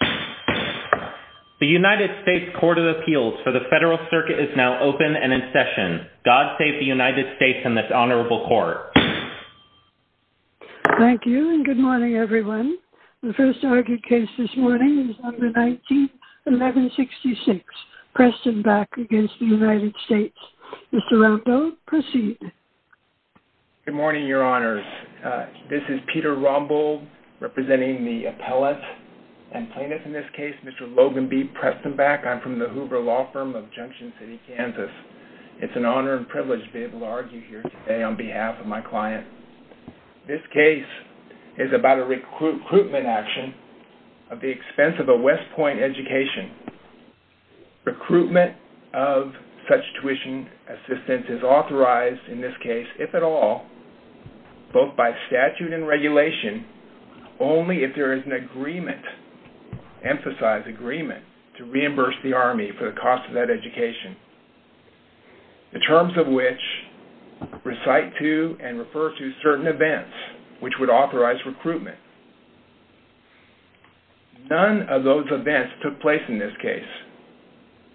Court of Appeals. The United States Court of Appeals for the Federal Circuit is now open and in session. God save the United States and this honorable court. Thank you and good morning everyone. The first argued case this morning is on the 19th, 1166, Prestonback v. United States. Mr. Rombo, proceed. Good morning, Your Honors. This is Peter Rombo representing the appellate and plaintiff in this case, Mr. Logan B. Prestonback. I'm from the Hoover Law Firm of Junction City, Kansas. It's an honor and privilege to be able to argue here today on behalf of my client. This case is about a recruitment action at the expense of a West Point education. Recruitment of such tuition assistance is authorized in this case, if at all, both by statute and regulation, only if there is an agreement, emphasized agreement, to reimburse the Army for the cost of that education. The terms of which recite to and refer to certain events, which would authorize recruitment. None of those events took place in this case,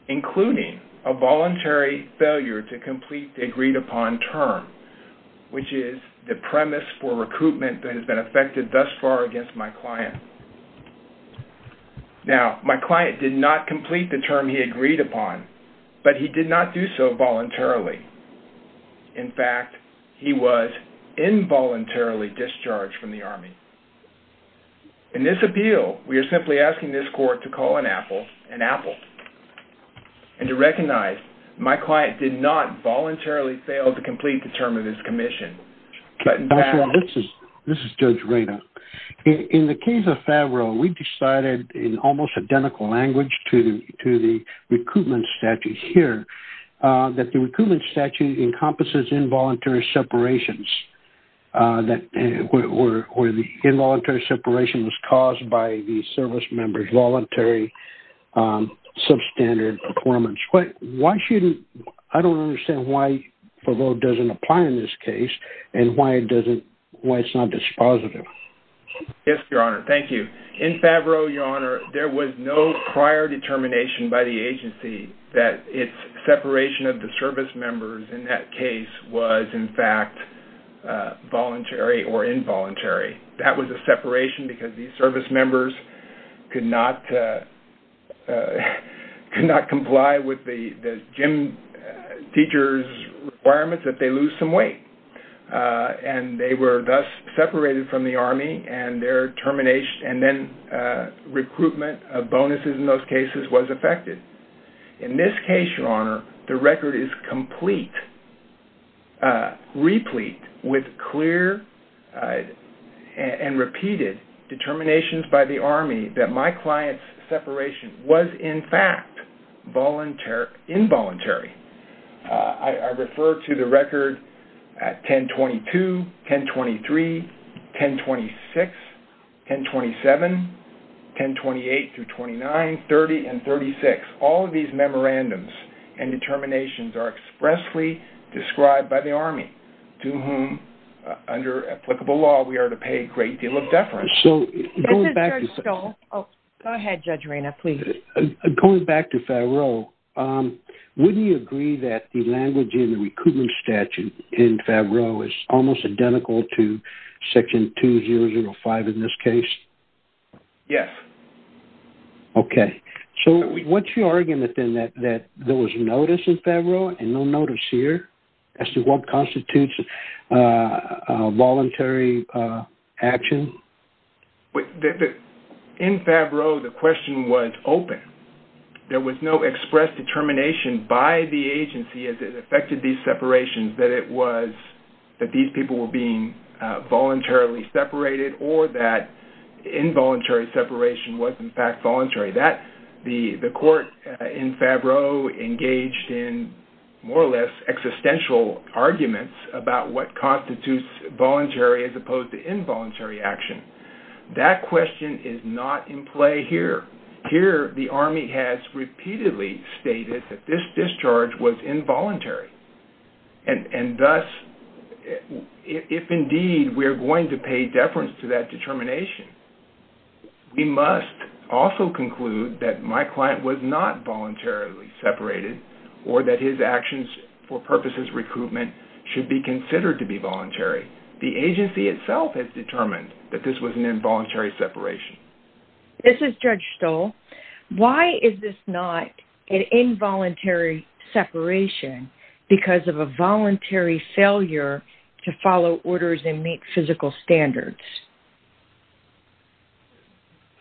including a voluntary failure to complete the agreed upon term, which is the premise for recruitment that has been affected thus far against my client. Now, my client did not complete the term he agreed upon, but he did not do so voluntarily. In fact, he was involuntarily discharged from the Army. In this appeal, we are simply asking this court to call an apple an apple and to recognize my client did not voluntarily fail to complete the term of his commission. This is Judge Reyna. In the case of Favreau, we decided in almost identical language to the recruitment statute here, that the recruitment statute encompasses involuntary separations, where the involuntary separation was caused by the service member's voluntary substandard performance. I don't understand why Favreau doesn't apply in this case and why it's not dispositive. Yes, Your Honor. Thank you. In Favreau, Your Honor, there was no prior determination by the agency that its separation of the service members in that case was, in fact, voluntary or involuntary. That was a separation because these service members could not comply with the gym teacher's requirements that they lose some weight. And they were thus separated from the Army and their termination and then recruitment of bonuses in those cases was affected. In this case, Your Honor, the record is complete, replete with clear and repeated determinations by the Army that my client's separation was, in fact, involuntary. I refer to the record at 1022, 1023, 1026, 1027, 1028-29, 30, and 36. All of these memorandums and determinations are expressly described by the Army, to whom, under applicable law, we are to pay a great deal of deference. This is Judge Stoll. Go ahead, Judge Reyna, please. Going back to Favreau, wouldn't you agree that the language in the recruitment statute in Favreau is almost identical to Section 2005 in this case? Yes. Okay. So, what's your argument, then, that there was notice in Favreau and no notice here as to what constitutes voluntary action? In Favreau, the question was open. There was no expressed determination by the agency as it affected these separations that these people were being voluntarily separated or that involuntary separation was, in fact, voluntary. The court in Favreau engaged in more or less existential arguments about what constitutes voluntary as opposed to involuntary action. That question is not in play here. Here, the Army has repeatedly stated that this discharge was involuntary. Thus, if indeed we are going to pay deference to that determination, we must also conclude that my client was not voluntarily separated or that his actions for purposes of recruitment should be considered to be voluntary. The agency itself has determined that this was an involuntary separation. This is Judge Stoll. Why is this not an involuntary separation because of a voluntary failure to follow orders and meet physical standards?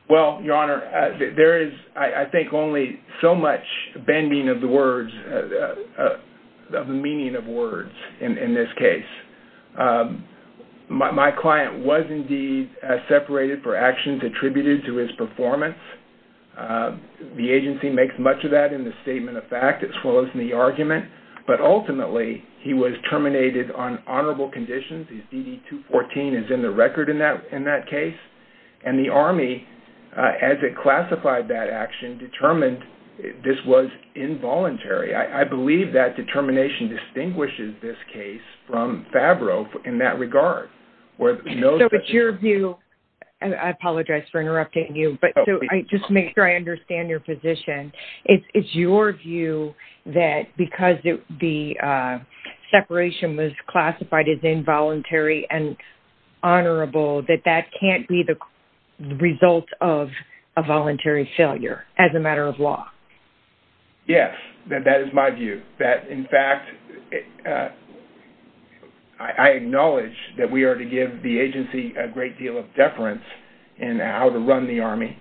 Well, Your Honor, there is, I think, only so much bending of the words, of the meaning of words in this case. My client was, indeed, separated for actions attributed to his performance. The agency makes much of that in the statement of fact as well as in the argument, but ultimately, he was terminated on honorable conditions. DD-214 is in the record in that case. The Army, as it classified that action, determined this was involuntary. I believe that determination distinguishes this case from Favreau in that regard. So, it's your view, and I apologize for interrupting you, but I just make sure I understand your position. It's your view that because the separation was classified as involuntary and honorable that that can't be the result of a voluntary failure as a matter of law? Yes, that is my view. That, in fact, I acknowledge that we are to give the agency a great deal of deference in how to run the Army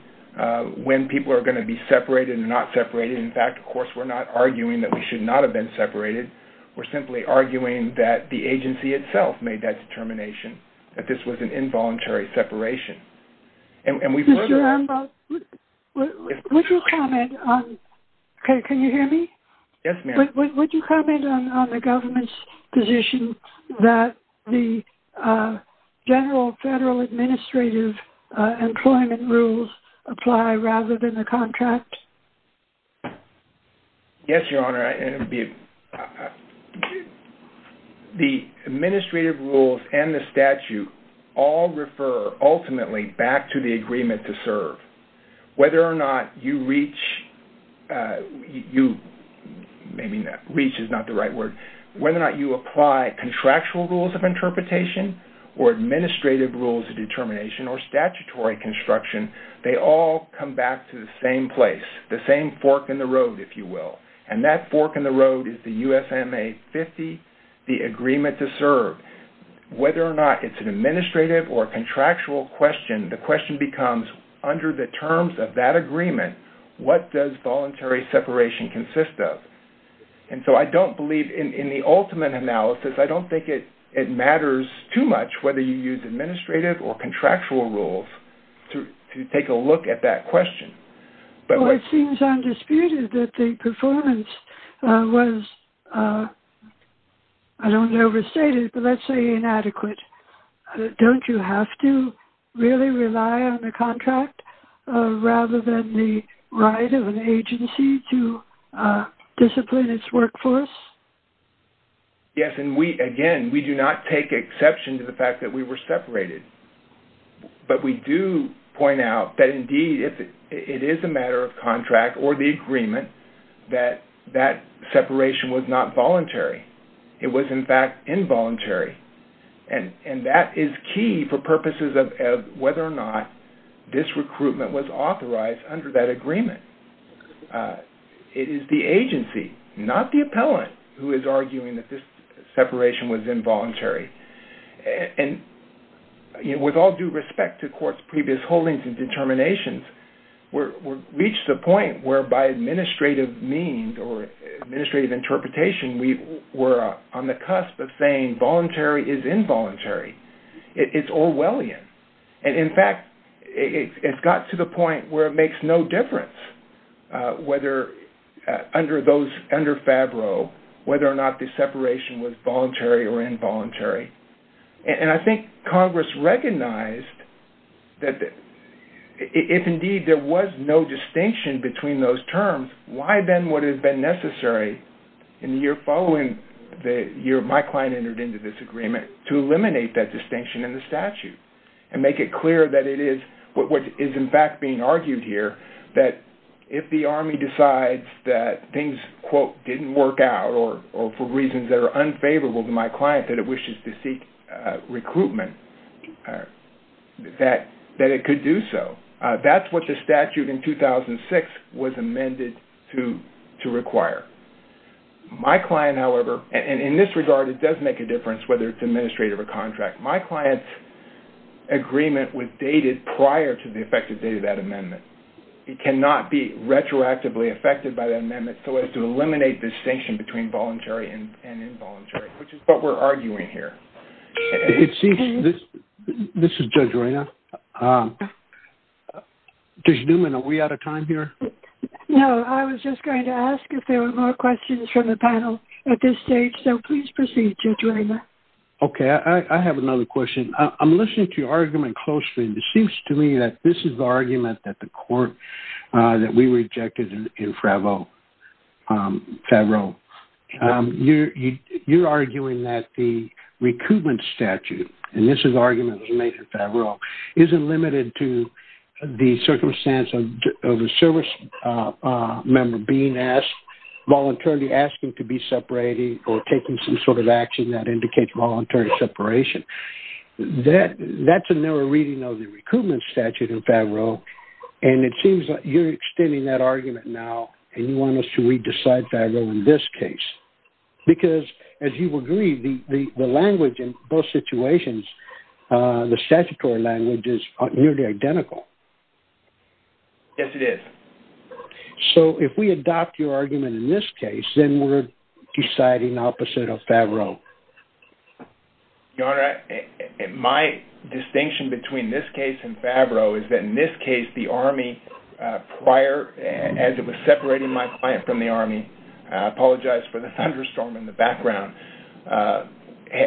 when people are going to be separated and not separated. In fact, of course, we're not arguing that we should not have been separated. We're simply arguing that the agency itself made that determination, that this was an involuntary separation. Mr. Armbrough, would you comment on... Can you hear me? Mr. Armbrough, would you comment on the government's position that the general federal administrative employment rules apply rather than the contract? Yes, Your Honor. The administrative rules and the statute all refer, ultimately, back to the agreement to serve. Whether or not you reach, maybe reach is not the right word, whether or not you apply contractual rules of interpretation or administrative rules of determination or statutory construction, they all come back to the same place, the same fork in the road, if you will. The same fork in the road is the USMA-50, the agreement to serve. Whether or not it's an administrative or contractual question, the question becomes, under the terms of that agreement, what does voluntary separation consist of? And so I don't believe, in the ultimate analysis, I don't think it matters too much whether you use administrative or contractual rules to take a look at that question. Well, it seems undisputed that the performance was, I don't want to overstate it, but let's say inadequate. Don't you have to really rely on the contract rather than the right of an agency to discipline its workforce? Yes, and we, again, we do not take exception to the fact that we were separated. But we do point out that, indeed, it is a matter of contract or the agreement that that separation was not voluntary. It was, in fact, involuntary. And that is key for purposes of whether or not this recruitment was authorized under that agreement. It is the agency, not the appellant, who is arguing that this separation was involuntary. And with all due respect to court's previous holdings and determinations, we've reached the point where, by administrative means or administrative interpretation, we're on the cusp of saying voluntary is involuntary. It's Orwellian. And, in fact, it's gotten to the point where it makes no difference whether under those, under FABRO, whether or not the separation was voluntary or involuntary. And I think Congress recognized that if, indeed, there was no distinction between those terms, why then would it have been necessary in the year following the year my client entered into this agreement to eliminate that distinction in the statute? And make it clear that it is, what is, in fact, being argued here, that if the Army decides that things, quote, didn't work out or for reasons that are unfavorable to my client, that it wishes to seek recruitment, that it could do so. That's what the statute in 2006 was amended to require. My client, however, and in this regard, it does make a difference whether it's administrative or contract. My client's agreement was dated prior to the effective date of that amendment. It cannot be retroactively affected by that amendment so as to eliminate distinction between voluntary and involuntary, which is what we're arguing here. It seems, this is Judge Reyna. Judge Newman, are we out of time here? No, I was just going to ask if there were more questions from the panel at this stage, so please proceed, Judge Reyna. Okay, I have another question. I'm listening to your argument closely, and it seems to me that this is the argument that the court, that we rejected in Favreau. You're arguing that the recruitment statute, and this is the argument that was made in Favreau, isn't limited to the circumstance of a service member being asked, voluntarily asking to be separated or taking some sort of action that indicates voluntary separation. That's a narrow reading of the recruitment statute in Favreau, and it seems like you're extending that argument now, and you want us to re-decide Favreau in this case. Because, as you agree, the language in both situations, the statutory language, is nearly identical. Yes, it is. So, if we adopt your argument in this case, then we're deciding opposite of Favreau. Your Honor, my distinction between this case and Favreau is that in this case, the Army, prior, as it was separating my client from the Army, I apologize for the thunderstorm in the background,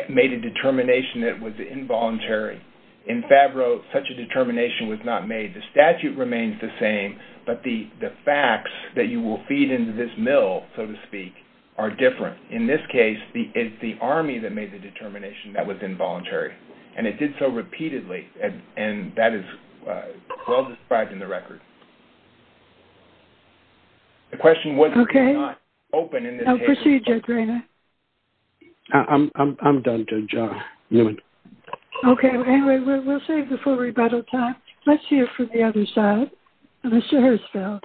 made a determination that was involuntary. In Favreau, such a determination was not made. The statute remains the same, but the facts that you will feed into this mill, so to speak, are different. In this case, it's the Army that made the determination that was involuntary, and it did so repeatedly, and that is well described in the record. Okay. I'll proceed, Judge Rayner. I'm done, Judge Newman. Okay, anyway, we'll save the full rebuttal time. Let's hear from the other side. Mr. Hirschfeld.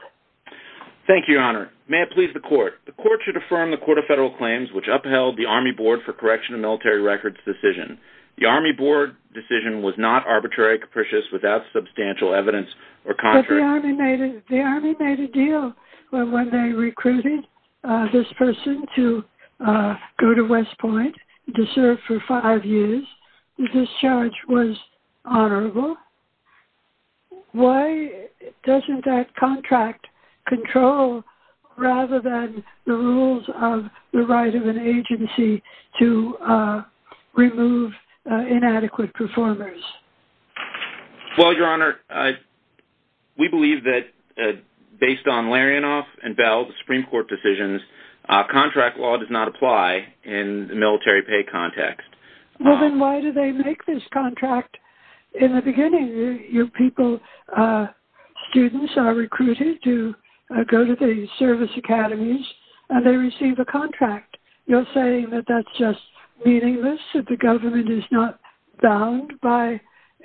Thank you, Your Honor. May it please the Court. The Court should affirm the Court of Federal Claims, which upheld the Army Board for Correction of Military Records decision. The Army Board decision was not arbitrary, capricious, without substantial evidence, or contrary... But the Army made a deal when they recruited this person to go to West Point to serve for five years. This charge was honorable. Why doesn't that contract control, rather than the rules of the right of an agency to remove inadequate performers? Well, Your Honor, we believe that based on Larianoff and Bell's Supreme Court decisions, contract law does not apply in the military pay context. Well, then why do they make this contract in the beginning? Your people, students, are recruited to go to the service academies, and they receive a contract. You're saying that that's just meaningless, that the government is not bound by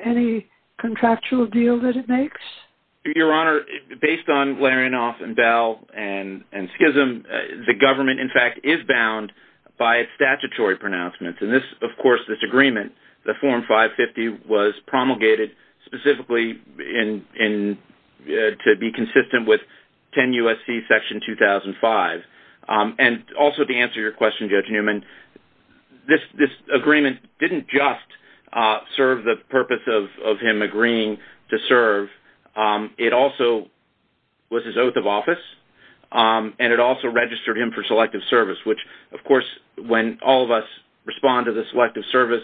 any contractual deal that it makes? Your Honor, based on Larianoff and Bell and Schism, the government, in fact, is bound by statutory pronouncements. Of course, this agreement, the Form 550, was promulgated specifically to be consistent with 10 U.S.C. Section 2005. And also, to answer your question, Judge Newman, this agreement didn't just serve the purpose of him agreeing to serve. It also was his oath of office, and it also registered him for selective service, which, of course, when all of us respond to the selective service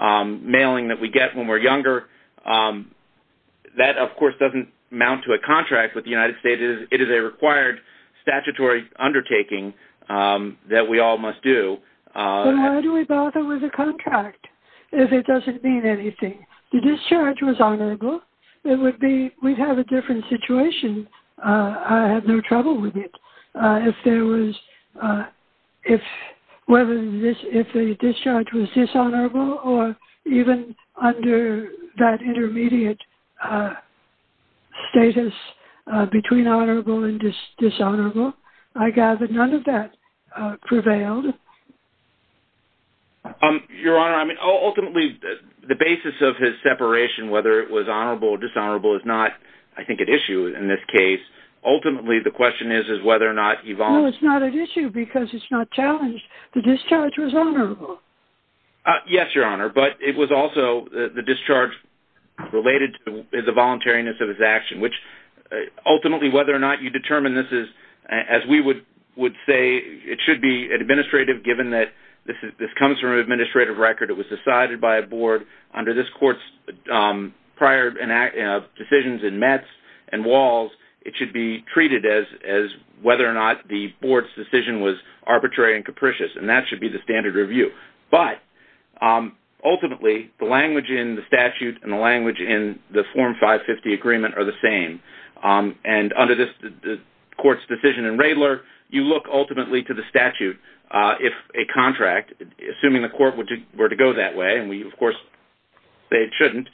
mailing that we get when we're younger, that, of course, doesn't amount to a contract with the United States. It is a required statutory undertaking that we all must do. But why do we bother with a contract if it doesn't mean anything? The discharge was honorable. It would be, we'd have a different situation. I have no trouble with it. If there was, if, whether this, if the discharge was dishonorable or even under that intermediate status between honorable and dishonorable, I gather none of that prevailed. Your Honor, I mean, ultimately, the basis of his separation, whether it was honorable or dishonorable, is not, I think, at issue in this case. Ultimately, the question is, is whether or not he volunteered. No, it's not at issue because it's not challenged. The discharge was honorable. Yes, Your Honor, but it was also the discharge related to the voluntariness of his action, which ultimately, whether or not you determine this is, as we would say, it should be administrative given that this comes from an administrative record. It was decided by a board. Under this Court's prior decisions in Mets and Walls, it should be treated as whether or not the board's decision was arbitrary and capricious, and that should be the standard review. But ultimately, the language in the statute and the language in the Form 550 agreement are the same. Under this Court's decision in Radler, you look ultimately to the statute. If a contract, assuming the Court were to go that way, and we, of course, say it shouldn't,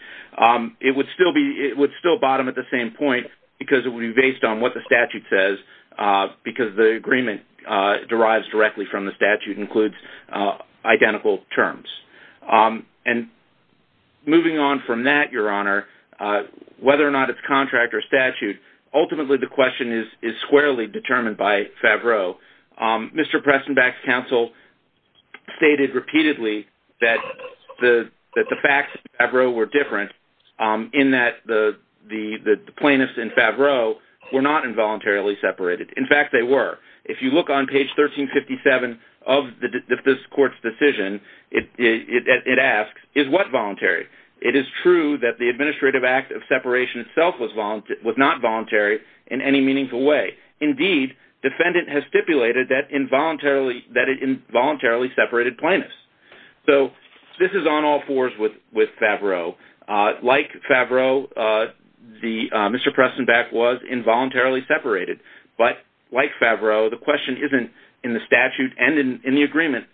it would still bottom at the same point because it would be based on what the statute says because the agreement derives directly from the statute and includes identical terms. Moving on from that, Your Honor, whether or not it's contract or statute, ultimately the question is squarely determined by Favreau. Mr. Pressenbach's counsel stated repeatedly that the facts of Favreau were different in that the plaintiffs in Favreau were not involuntarily separated. In fact, they were. If you look on page 1357 of this Court's decision, it asks, is what voluntary? It is true that the administrative act of separation itself was not voluntary in any meaningful way. Indeed, defendant has stipulated that it involuntarily separated plaintiffs. So, this is on all fours with Favreau. Like Favreau, Mr. Pressenbach was involuntarily separated. But like Favreau, the question isn't in the statute and in the agreement.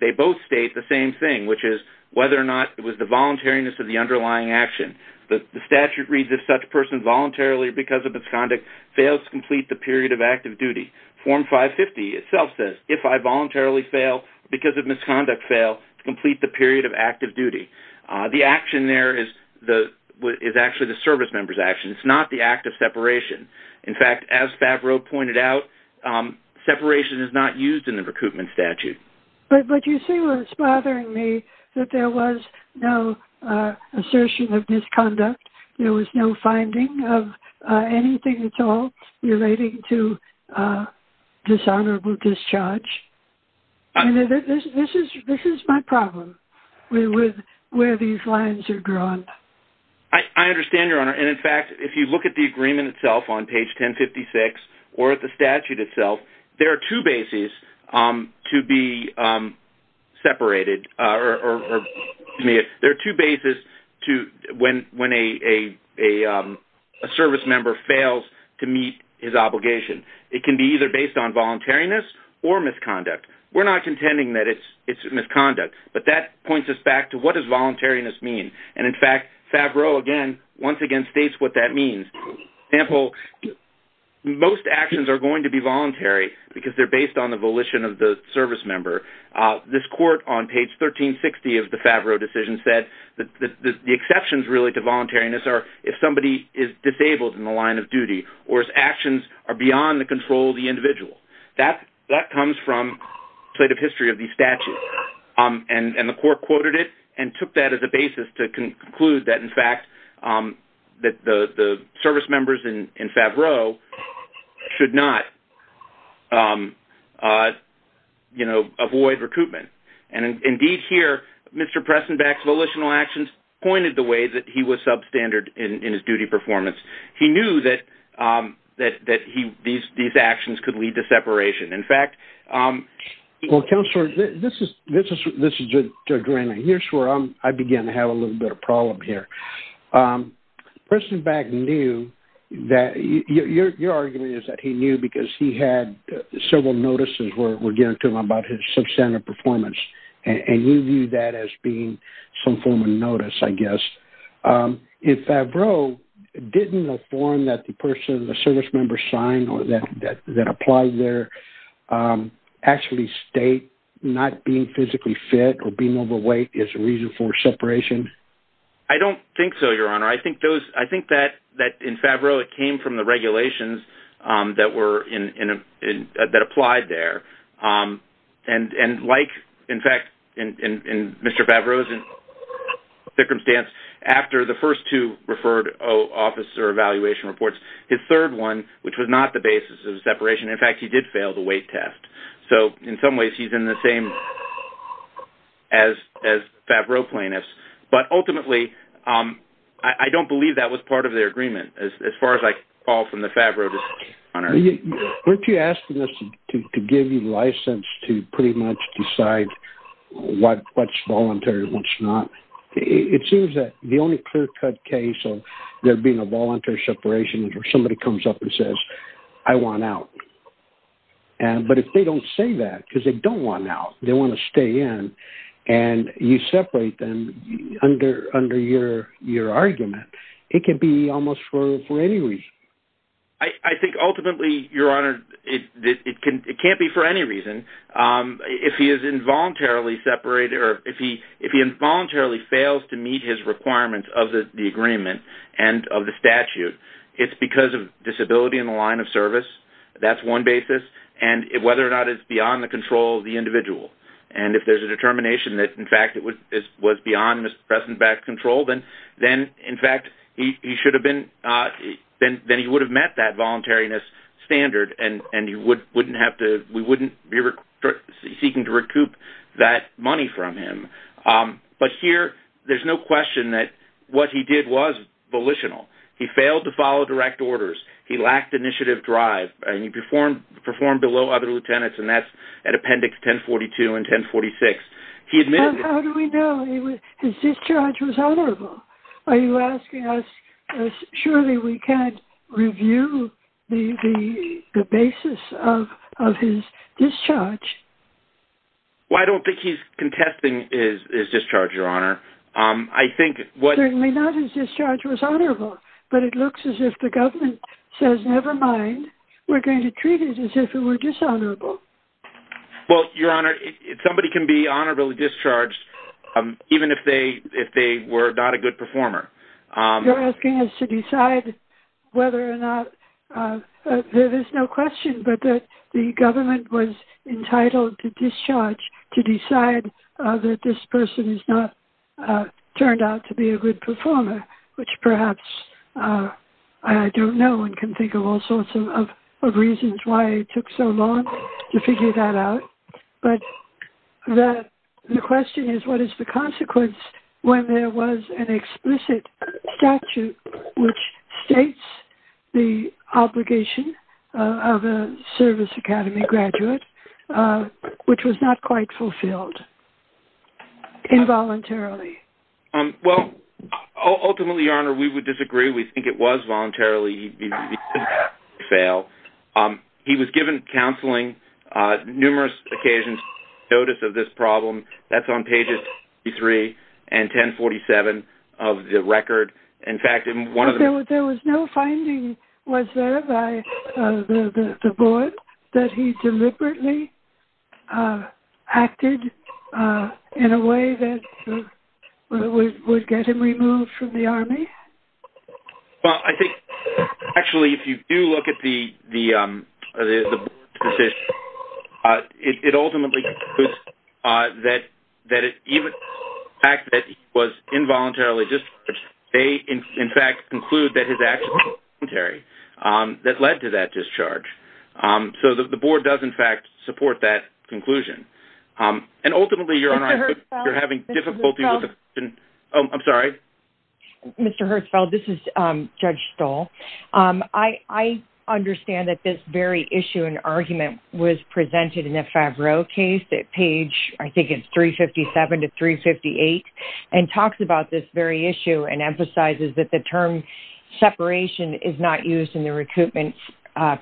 They both state the same thing, which is whether or not it was the voluntariness of the underlying action. The statute reads, if such a person voluntarily, because of misconduct, fails to complete the period of active duty. Form 550 itself says, if I voluntarily fail because of misconduct fail to complete the period of active duty. The action there is actually the service member's action. It's not the act of separation. In fact, as Favreau pointed out, separation is not used in the recoupment statute. But you see what's bothering me, that there was no assertion of misconduct. There was no finding of anything at all relating to dishonorable discharge. This is my problem. Where these lines are drawn. I understand, Your Honor. And, in fact, if you look at the agreement itself on page 1056 or at the statute itself, there are two bases to be separated. There are two bases when a service member fails to meet his obligation. It can be either based on voluntariness or misconduct. We're not contending that it's misconduct, but that points us back to what does voluntariness mean. And, in fact, Favreau, again, once again states what that means. For example, most actions are going to be voluntary because they're based on the volition of the service member. This court on page 1360 of the Favreau decision said that the exceptions related to voluntariness are if somebody is disabled in the line of duty or his actions are beyond the control of the individual. That comes from the history of the statute. And the court quoted it and took that as a basis to conclude that, in fact, the service members in Favreau should not, you know, avoid recoupment. And, indeed, here Mr. Pressenbach's volitional actions pointed the way that he was substandard in his duty performance. He knew that these actions could lead to separation. In fact, he- Well, Counselor, this is Joe Drennan. Here's where I begin to have a little bit of a problem here. Pressenbach knew that-your argument is that he knew because he had several notices where we're getting to him about his substandard performance, and you view that as being some form of notice, I guess. In Favreau, didn't the form that the person, the service member signed or that applied there, actually state not being physically fit or being overweight is a reason for separation? I don't think so, Your Honor. I think that in Favreau it came from the regulations that were-that applied there. And like, in fact, in Mr. Favreau's circumstance, after the first two referred officer evaluation reports, his third one, which was not the basis of separation-in fact, he did fail the weight test. So, in some ways, he's in the same as Favreau plaintiffs. But, ultimately, I don't believe that was part of their agreement as far as I can recall from the Favreau- Weren't you asking us to give you license to pretty much decide what's voluntary and what's not? It seems that the only clear-cut case of there being a voluntary separation is where somebody comes up and says, I want out. But if they don't say that because they don't want out, they want to stay in, and you separate them under your argument, it could be almost for any reason. I think, ultimately, Your Honor, it can't be for any reason. If he is involuntarily separated or if he involuntarily fails to meet his requirements of the agreement and of the statute, it's because of disability in the line of service. That's one basis. And whether or not it's beyond the control of the individual. And if there's a determination that, in fact, it was beyond his present back control, then, in fact, he should have been – then he would have met that voluntariness standard and we wouldn't be seeking to recoup that money from him. But here, there's no question that what he did was volitional. He failed to follow direct orders. He lacked initiative drive. He performed below other lieutenants, and that's at Appendix 1042 and 1046. How do we know? His discharge was honorable. Are you asking us, surely we can't review the basis of his discharge? Well, I don't think he's contesting his discharge, Your Honor. Certainly not. His discharge was honorable. But it looks as if the government says, never mind. We're going to treat it as if it were dishonorable. Well, Your Honor, somebody can be honorably discharged even if they were not a good performer. You're asking us to decide whether or not – there is no question but that the government was entitled to discharge to decide that this person has not turned out to be a good performer, which perhaps I don't know and can think of all sorts of reasons why it took so long to figure that out. But the question is, what is the consequence when there was an explicit statute which states the obligation of a service academy graduate, which was not quite fulfilled involuntarily? Well, ultimately, Your Honor, we would disagree. We think it was voluntarily. He didn't fail. He was given counseling numerous occasions. Notice of this problem, that's on pages 23 and 1047 of the record. But there was no finding, was there, by the board that he deliberately acted in a way that would get him removed from the Army? Well, I think actually if you do look at the position, it ultimately concludes that the fact that he was involuntarily discharged, they in fact conclude that his actions were voluntary that led to that discharge. So the board does in fact support that conclusion. And ultimately, Your Honor, I think you're having difficulty with the – Mr. Hertzfeld? Oh, I'm sorry? Mr. Hertzfeld, this is Judge Stahl. I understand that this very issue and argument was presented in the Favreau case at page, I think it's 357 to 358, and talks about this very issue and emphasizes that the term separation is not used in the recoupment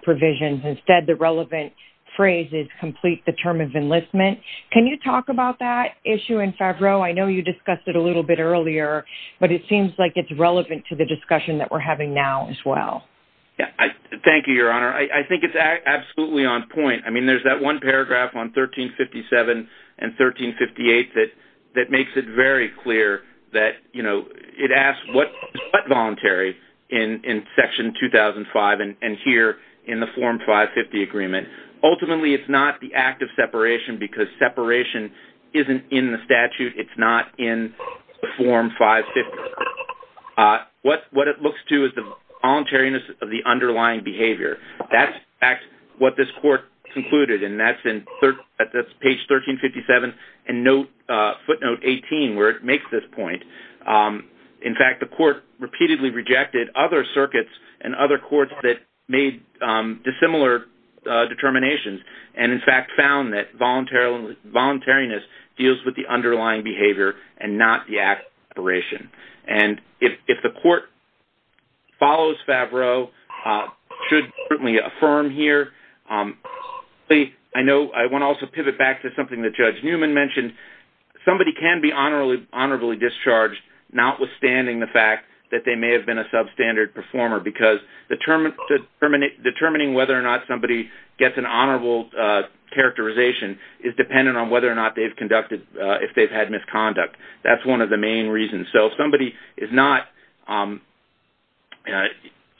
provisions. Instead, the relevant phrase is complete the term of enlistment. Can you talk about that issue in Favreau? I know you discussed it a little bit earlier, but it seems like it's relevant to the discussion that we're having now as well. Thank you, Your Honor. I think it's absolutely on point. I mean, there's that one paragraph on 1357 and 1358 that makes it very clear that, you know, it asks what is but voluntary in Section 2005 and here in the Form 550 agreement. Ultimately, it's not the act of separation because separation isn't in the statute. It's not in the Form 550. What it looks to is the voluntariness of the underlying behavior. That's, in fact, what this court concluded, and that's in page 1357 and footnote 18 where it makes this point. In fact, the court repeatedly rejected other circuits and other courts that made dissimilar determinations and, in fact, found that voluntariness deals with the underlying behavior and not the act of separation. And if the court follows Favreau, should certainly affirm here. I know I want to also pivot back to something that Judge Newman mentioned. Somebody can be honorably discharged notwithstanding the fact that they may have been a substandard performer because determining whether or not somebody gets an honorable characterization is dependent on whether or not they've conducted, if they've had misconduct. That's one of the main reasons. So if somebody is not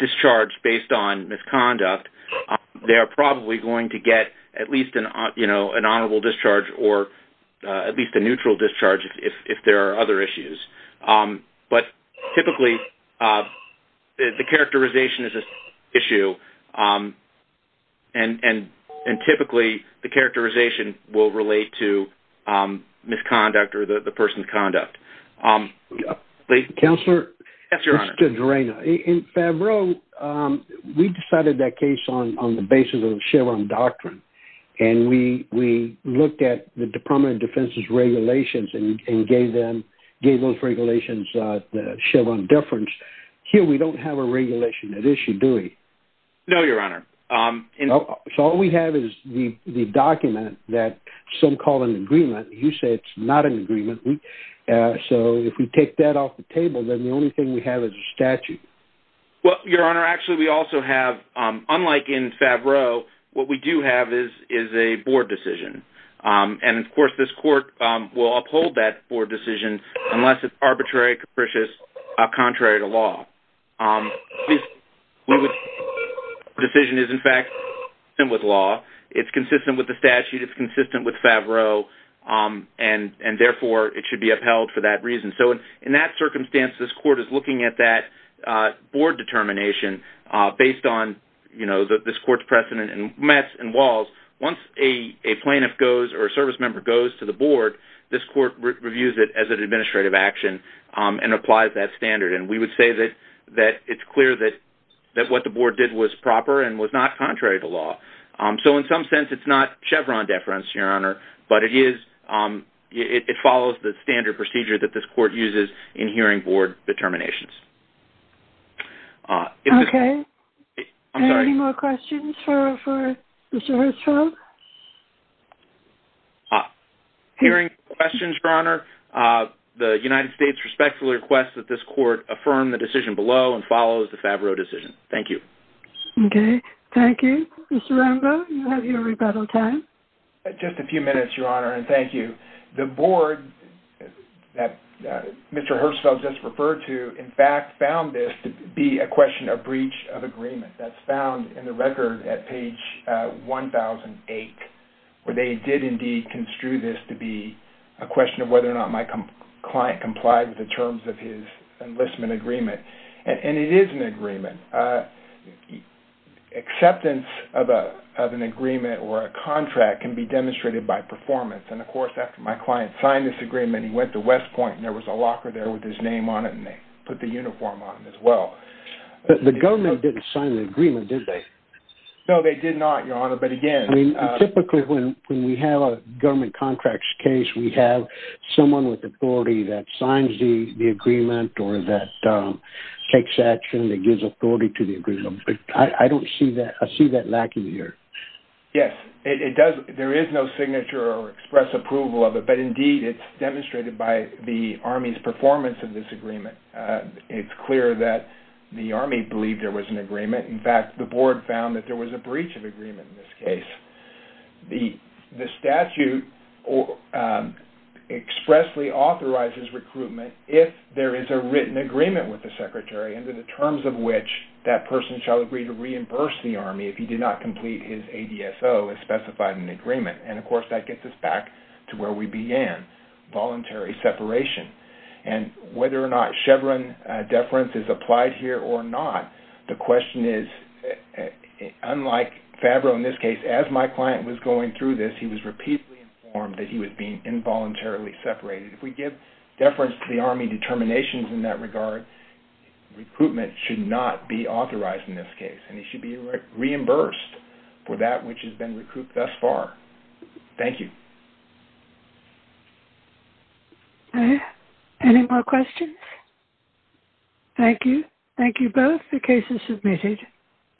discharged based on misconduct, they are probably going to get at least an honorable discharge or at least a neutral discharge if there are other issues. But typically the characterization is an issue, and typically the characterization will relate to misconduct or the person's conduct. Counselor? Yes, Your Honor. In Favreau, we decided that case on the basis of the Sherwin Doctrine, and we looked at the Department of Defense's regulations and gave those regulations the Sherwin deference. Here we don't have a regulation that issued Dewey. No, Your Honor. So all we have is the document that some call an agreement. You say it's not an agreement. So if we take that off the table, then the only thing we have is a statute. Well, Your Honor, actually we also have, unlike in Favreau, what we do have is a board decision. And, of course, this court will uphold that board decision unless it's arbitrary, capricious, contrary to law. This decision is, in fact, consistent with law. It's consistent with the statute. It's consistent with Favreau, and therefore it should be upheld for that reason. So in that circumstance, this court is looking at that board determination based on, you know, this court's precedent. And once a plaintiff goes or a service member goes to the board, this court reviews it as an administrative action and applies that standard. And we would say that it's clear that what the board did was proper and was not contrary to law. So in some sense, it's not Chevron deference, Your Honor, but it follows the standard procedure that this court uses in hearing board determinations. Okay. I'm sorry. Any more questions for Mr. Hirschfeld? Hearing questions, Your Honor, the United States respectfully requests that this court affirm the decision below and follows the Favreau decision. Thank you. Okay. Thank you. Mr. Rambo, you have your rebuttal time. Just a few minutes, Your Honor, and thank you. The board that Mr. Hirschfeld just referred to, in fact, found this to be a question of breach of agreement. That's found in the record at page 1008, where they did indeed construe this to be a question of whether or not my client complied with the terms of his enlistment agreement. And it is an agreement. Acceptance of an agreement or a contract can be demonstrated by performance. And, of course, after my client signed this agreement, he went to West Point, and there was a locker there with his name on it, and they put the uniform on it as well. But the government didn't sign the agreement, did they? No, they did not, Your Honor. Typically, when we have a government contract case, we have someone with authority that signs the agreement or that takes action that gives authority to the agreement. I don't see that. I see that lacking here. Yes, it does. There is no signature or express approval of it. But, indeed, it's demonstrated by the Army's performance of this agreement. It's clear that the Army believed there was an agreement. In fact, the Board found that there was a breach of agreement in this case. The statute expressly authorizes recruitment if there is a written agreement with the Secretary under the terms of which that person shall agree to reimburse the Army if he did not complete his ADSO as specified in the agreement. And, of course, that gets us back to where we began, voluntary separation. And whether or not Chevron deference is applied here or not, the question is, unlike Favreau in this case, as my client was going through this, he was repeatedly informed that he was being involuntarily separated. If we give deference to the Army determinations in that regard, recruitment should not be authorized in this case, and he should be reimbursed for that which has been recouped thus far. Thank you. Any more questions? Thank you. Thank you both. The case is submitted.